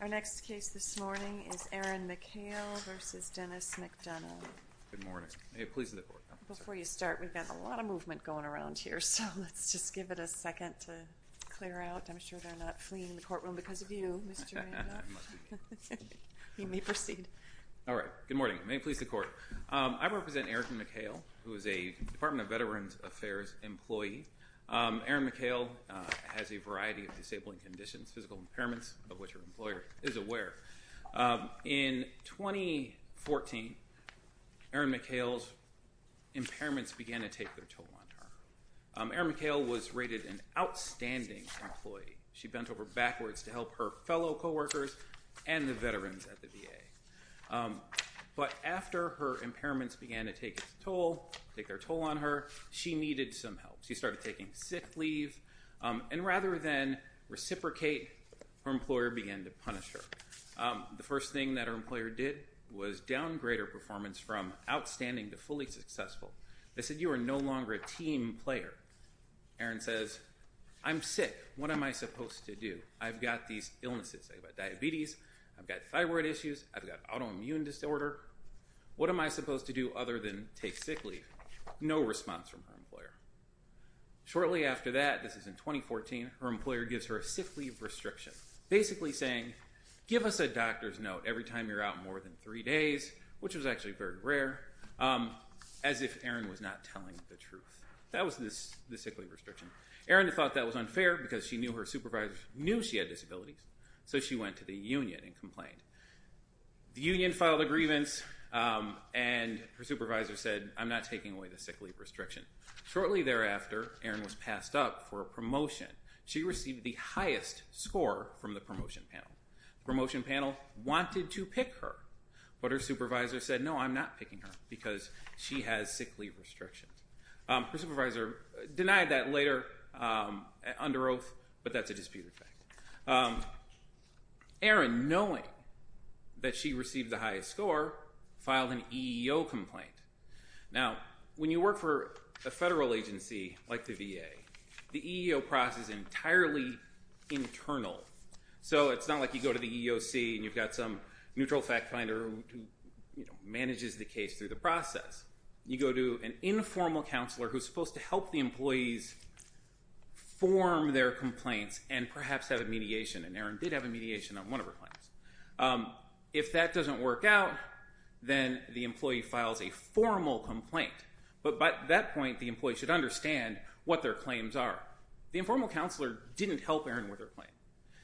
Our next case this morning is Aaron McHale v. Denis McDonough. Good morning. May it please the Court. Before you start, we've got a lot of movement going around here, so let's just give it a second to clear out. I'm sure they're not fleeing the courtroom because of you, Mr. Randolph. I must be. You may proceed. All right. Good morning. May it please the Court. I represent Erin McHale, who is a Department of Veterans Affairs employee. Erin McHale has a variety of disabling conditions, physical impairments, of which her employer is aware. In 2014, Erin McHale's impairments began to take their toll on her. Erin McHale was rated an outstanding employee. She bent over backwards to help her fellow co-workers and the veterans at the VA. But after her impairments began to take its toll, take their toll on her, she needed some help. She started taking sick leave, and rather than reciprocate, her employer began to punish her. The first thing that her employer did was downgrade her performance from outstanding to fully successful. They said, you are no longer a team player. Erin says, I'm sick. What am I supposed to do? I've got these illnesses. I've got diabetes. I've got thyroid issues. I've got autoimmune disorder. What am I supposed to do other than take sick leave? No response from her employer. Shortly after that, this is in 2014, her employer gives her a sick leave restriction, basically saying, give us a doctor's note every time you're out more than three days, which was actually very rare, as if Erin was not telling the truth. That was the sick leave restriction. Erin thought that was unfair because she knew her supervisor knew she had disabilities, so she went to the union and complained. The union filed a grievance, and her supervisor said, I'm not taking away the sick leave restriction. Shortly thereafter, Erin was passed up for a promotion. She received the highest score from the promotion panel. The promotion panel wanted to pick her, but her supervisor said, no, I'm not picking her, because she has sick leave restrictions. Her supervisor denied that later under oath, but that's a disputed fact. Erin, knowing that she received the highest score, filed an EEO complaint. Now, when you work for a federal agency like the VA, the EEO process is entirely internal, so it's not like you go to the EEOC and you've got some neutral fact finder who manages the case through the process. You go to an informal counselor who's supposed to help the employees form their complaints and perhaps have a mediation, and Erin did have a mediation on one of her claims. If that doesn't work out, then the employee files a formal complaint, but by that point the employee should understand what their claims are. The informal counselor didn't help Erin with her claim.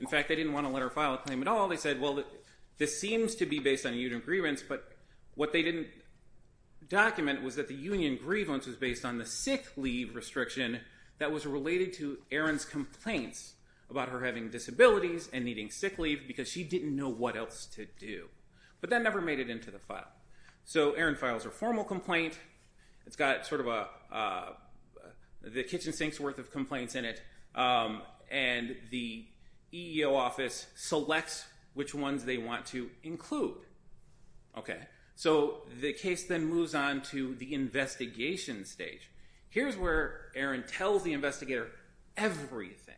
In fact, they didn't want to let her file a claim at all. They said, well, this seems to be based on union grievance, but what they didn't document was that the union grievance was based on the sick leave restriction that was related to Erin's complaints about her having disabilities and needing sick leave because she didn't know what else to do, but that never made it into the file. So Erin files her formal complaint. It's got sort of the kitchen sink's worth of complaints in it, and the EEO office selects which ones they want to include. So the case then moves on to the investigation stage. Here's where Erin tells the investigator everything.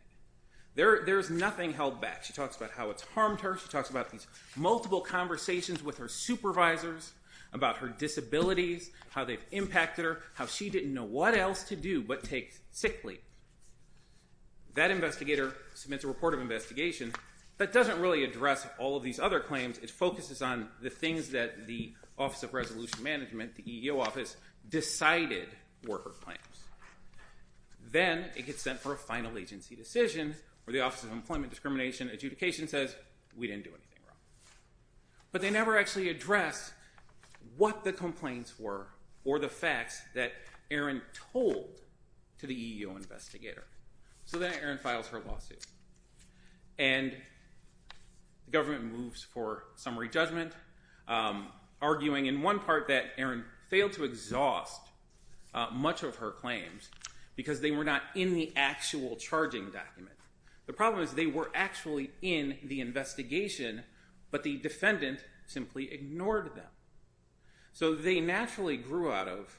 There's nothing held back. She talks about how it's harmed her. She talks about these multiple conversations with her supervisors about her disabilities, how they've impacted her, how she didn't know what else to do but take sick leave. That investigator submits a report of investigation that doesn't really address all of these other claims. It focuses on the things that the Office of Resolution Management, the EEO office, decided were her claims. Then it gets sent for a final agency decision where the Office of Employment Discrimination Adjudication says we didn't do anything wrong. But they never actually address what the complaints were or the facts that Erin told to the EEO investigator. So then Erin files her lawsuit, and the government moves for summary judgment, arguing in one part that Erin failed to exhaust much of her claims because they were not in the actual charging document. The problem is they were actually in the investigation, but the defendant simply ignored them. So they naturally grew out of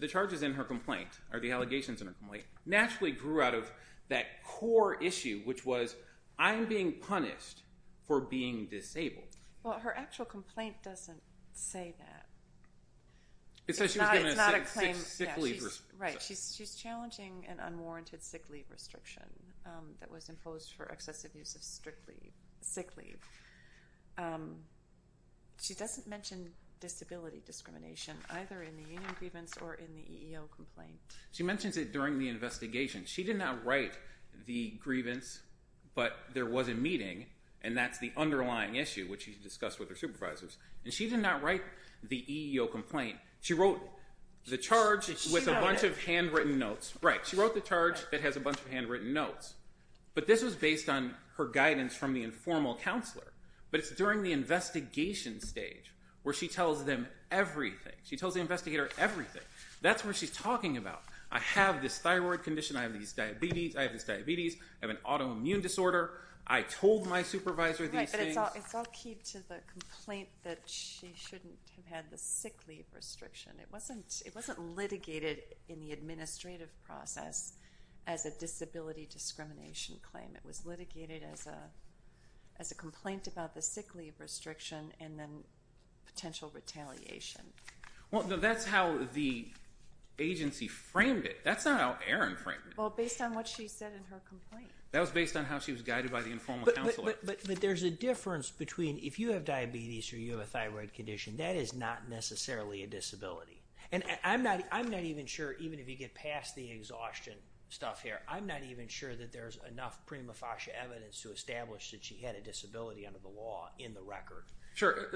the charges in her complaint, or the allegations in her complaint, naturally grew out of that core issue, which was I'm being punished for being disabled. Well, her actual complaint doesn't say that. It says she was given a sick leave restriction. Right. She's challenging an unwarranted sick leave restriction that was imposed for excessive use of sick leave. She doesn't mention disability discrimination, either in the union grievance or in the EEO complaint. She mentions it during the investigation. She did not write the grievance, but there was a meeting, and that's the underlying issue, which she discussed with her supervisors. And she did not write the EEO complaint. She wrote the charge with a bunch of handwritten notes. Right. She wrote the charge that has a bunch of handwritten notes. But this was based on her guidance from the informal counselor. But it's during the investigation stage where she tells them everything. She tells the investigator everything. That's what she's talking about. I have this thyroid condition. I have this diabetes. I have an autoimmune disorder. I told my supervisor these things. It's all key to the complaint that she shouldn't have had the sick leave restriction. It wasn't litigated in the administrative process as a disability discrimination claim. It was litigated as a complaint about the sick leave restriction and then potential retaliation. Well, that's how the agency framed it. That's not how Erin framed it. Well, based on what she said in her complaint. That was based on how she was guided by the informal counselor. But there's a difference between if you have diabetes or you have a thyroid condition. That is not necessarily a disability. I'm not even sure, even if you get past the exhaustion stuff here, I'm not even sure that there's enough prima facie evidence to establish that she had a disability under the law in the record. Sure.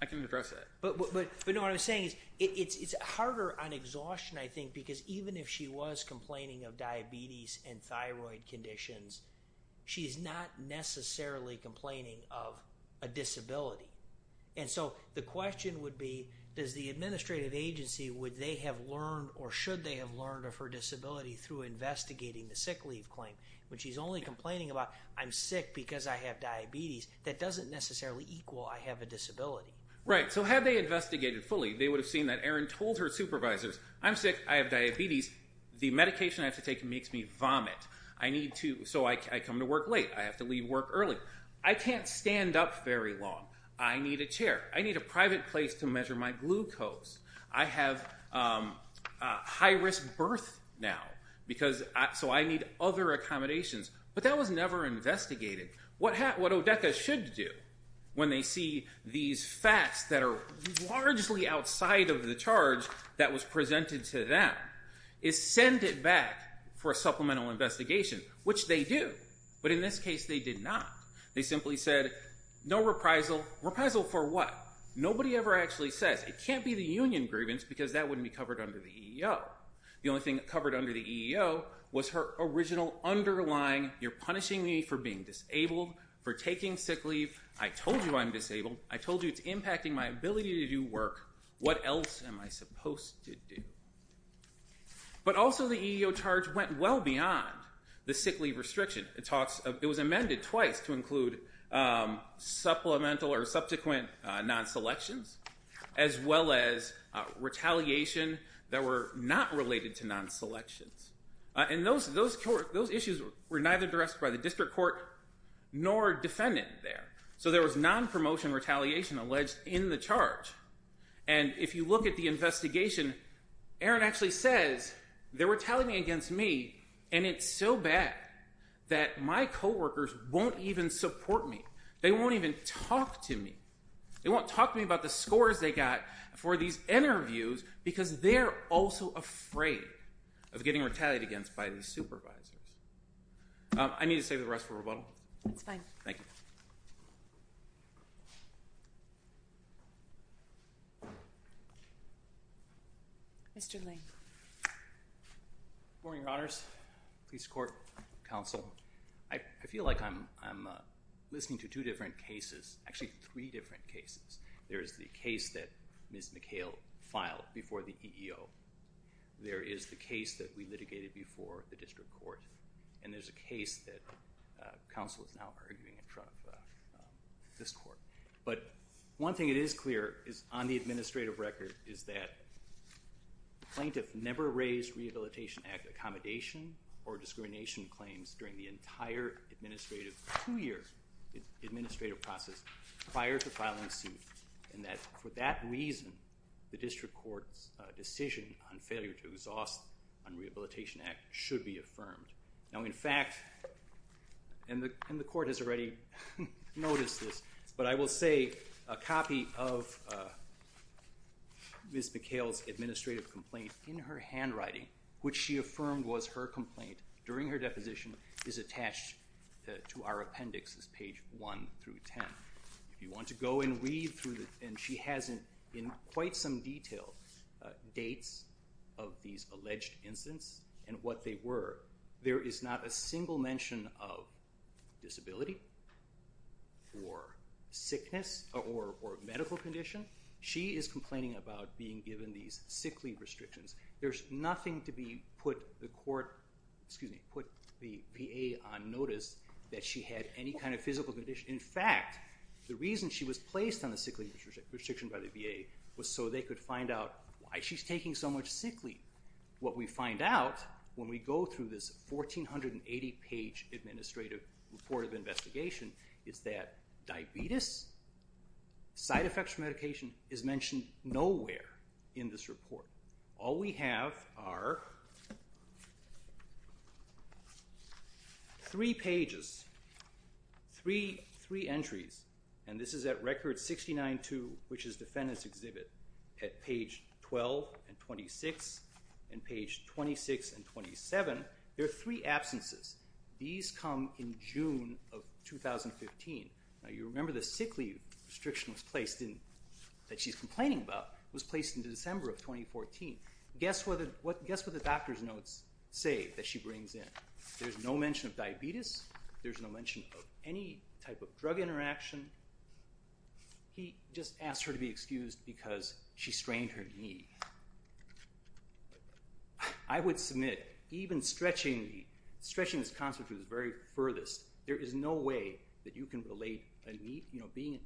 I can address that. But what I'm saying is it's harder on exhaustion, I think, because even if she was complaining of diabetes and thyroid conditions, she's not necessarily complaining of a disability. And so the question would be, does the administrative agency, would they have learned or should they have learned of her disability through investigating the sick leave claim? When she's only complaining about, I'm sick because I have diabetes, that doesn't necessarily equal I have a disability. Right. So had they investigated fully, they would have seen that Erin told her supervisors, I'm sick, I have diabetes, the medication I have to take makes me vomit. I need to, so I come to work late. I have to leave work early. I can't stand up very long. I need a chair. I need a private place to measure my glucose. I have high risk birth now because, so I need other accommodations. But that was never investigated. What ODECA should do when they see these facts that are largely outside of the charge that was presented to them, is send it back for a supplemental investigation, which they do. But in this case they did not. They simply said, no reprisal. Reprisal for what? Nobody ever actually says. It can't be the union grievance because that wouldn't be covered under the EEO. The only thing covered under the EEO was her original underlying, you're punishing me for being disabled, for taking sick leave. I told you I'm disabled. I told you it's impacting my ability to do work. What else am I supposed to do? But also the EEO charge went well beyond the sick leave restriction. It was amended twice to include supplemental or subsequent non-selections, as well as retaliation that were not related to non-selections. And those issues were neither addressed by the district court nor defendant there. So there was non-promotion retaliation alleged in the charge. And if you look at the investigation, Aaron actually says they're retaliating against me, and it's so bad that my coworkers won't even support me. They won't even talk to me. They won't talk to me about the scores they got for these interviews because they're also afraid of getting retaliated against by these supervisors. I need to save the rest for rebuttal. That's fine. Thank you. Mr. Lane. Morning, Your Honors, police court, counsel. I feel like I'm listening to two different cases, actually three different cases. There is the case that Ms. McHale filed before the EEO. There is the case that we litigated before the district court. And there's a case that counsel is now arguing in front of this court. But one thing that is clear is on the administrative record is that plaintiff never raised Rehabilitation Act accommodation or discrimination claims during the entire administrative, two-year administrative process prior to filing suit, and that for that reason the district court's decision on failure to exhaust on Rehabilitation Act should be affirmed. Now, in fact, and the court has already noticed this, but I will say a copy of Ms. McHale's administrative complaint in her handwriting, which she affirmed was her complaint during her deposition, is attached to our appendix. It's page 1 through 10. If you want to go and read through it, and she has in quite some detail dates of these alleged incidents and what they were, there is not a single mention of disability or sickness or medical condition. She is complaining about being given these sick leave restrictions. There's nothing to be put the court, excuse me, put the PA on notice that she had any kind of physical condition. In fact, the reason she was placed on the sick leave restriction by the VA was so they could find out why she's taking so much sick leave. What we find out when we go through this 1,480-page administrative report of investigation is that diabetes, side effects from medication, is mentioned nowhere in this report. All we have are three pages, three entries, and this is at Record 69-2, which is Defendant's Exhibit, at page 12 and 26 and page 26 and 27. There are three absences. These come in June of 2015. You remember the sick leave restriction that she's complaining about was placed in December of 2014. Guess what the doctor's notes say that she brings in. There's no mention of diabetes. There's no mention of any type of drug interaction. He just asked her to be excused because she strained her knee. I would submit even stretching this concept to the very furthest, there is no way that you can relate being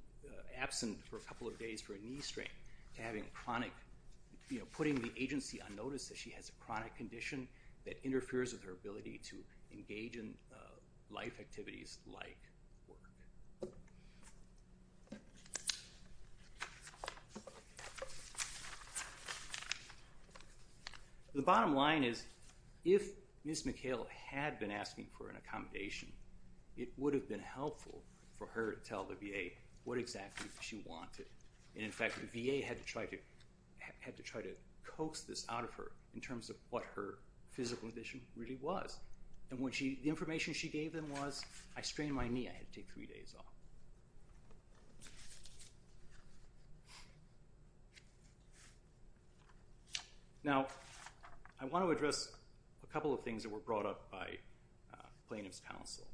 absent for a couple of days for a knee strain to having chronic, you know, putting the agency on notice that she has a chronic condition that interferes with her ability to engage in life activities like work. The bottom line is if Ms. McHale had been asking for an accommodation, it would have been helpful for her to tell the VA what exactly she wanted. In fact, the VA had to try to coax this out of her in terms of what her physical condition really was. The information she gave them was, I strained my knee, I had to take three days off. Now, I want to address a couple of things that were brought up by Plaintiff's Counsel.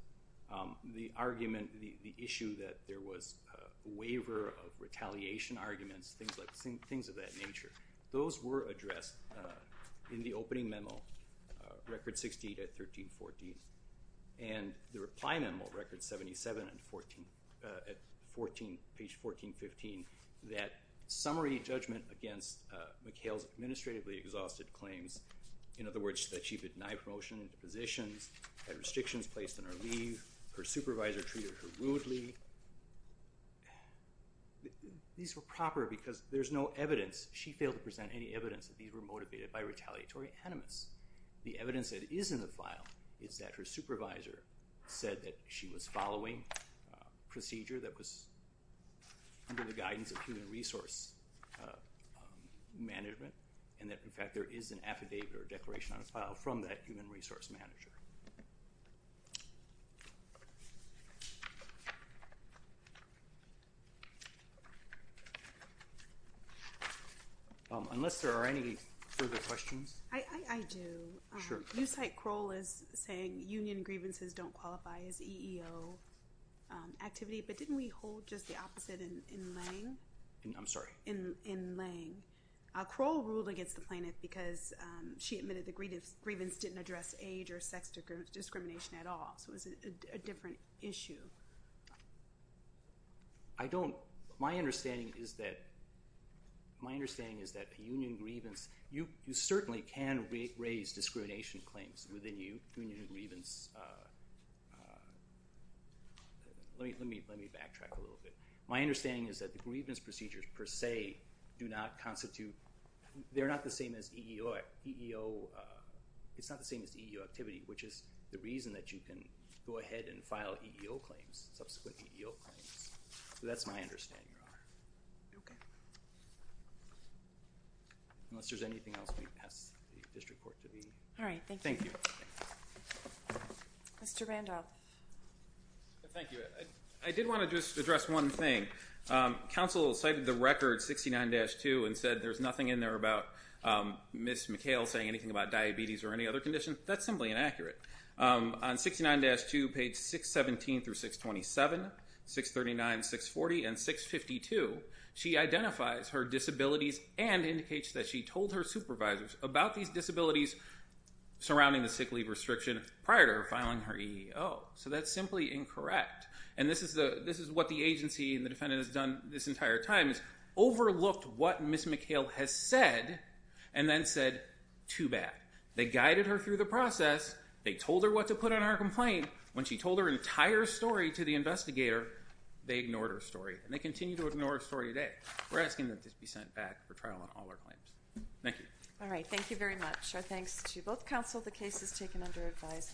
The argument, the issue that there was a waiver of retaliation arguments, things of that nature, those were addressed in the opening memo, Record 68 at 13-14, and the reply memo, Record 77 at 14, page 14-15, that summary judgment against McHale's administratively exhausted claims, in other words, that she denied promotion into positions, had restrictions placed on her leave, her supervisor treated her rudely. These were proper because there's no evidence, she failed to present any evidence that these were motivated by retaliatory enemas. The evidence that is in the file is that her supervisor said that she was following procedure that was under the guidance of human resource management and that, in fact, there is an affidavit or declaration on a file from that human resource manager. Unless there are any further questions? I do. Sure. You cite Kroll as saying union grievances don't qualify as EEO activity, but didn't we hold just the opposite in Lange? I'm sorry? In Lange. Kroll ruled against the plaintiff because she admitted the grievance didn't address age or sex discrimination at all, so it was a different issue. My understanding is that union grievance, you certainly can raise discrimination claims within you, union grievance. Let me backtrack a little bit. My understanding is that the grievance procedures per se do not constitute, they're not the same as EEO, it's not the same as EEO activity, which is the reason that you can go ahead and file EEO claims, subsequent EEO claims. So that's my understanding, Your Honor. Okay. Unless there's anything else we pass the district court to be? All right, thank you. Thank you. Mr. Randolph. Thank you. I did want to just address one thing. Counsel cited the record 69-2 and said there's nothing in there about Ms. McHale saying anything about diabetes or any other condition. That's simply inaccurate. On 69-2, page 617 through 627, 639, 640, and 652, she identifies her disabilities and indicates that she told her supervisors about these disabilities surrounding the sick leave restriction prior to her filing her EEO. So that's simply incorrect. And this is what the agency and the defendant has done this entire time, is overlooked what Ms. McHale has said and then said, too bad. They guided her through the process. They told her what to put on her complaint. When she told her entire story to the investigator, they ignored her story. And they continue to ignore her story today. We're asking that this be sent back for trial on all her claims. Thank you. All right, thank you very much. Our thanks to both counsel. The case is taken under advisement.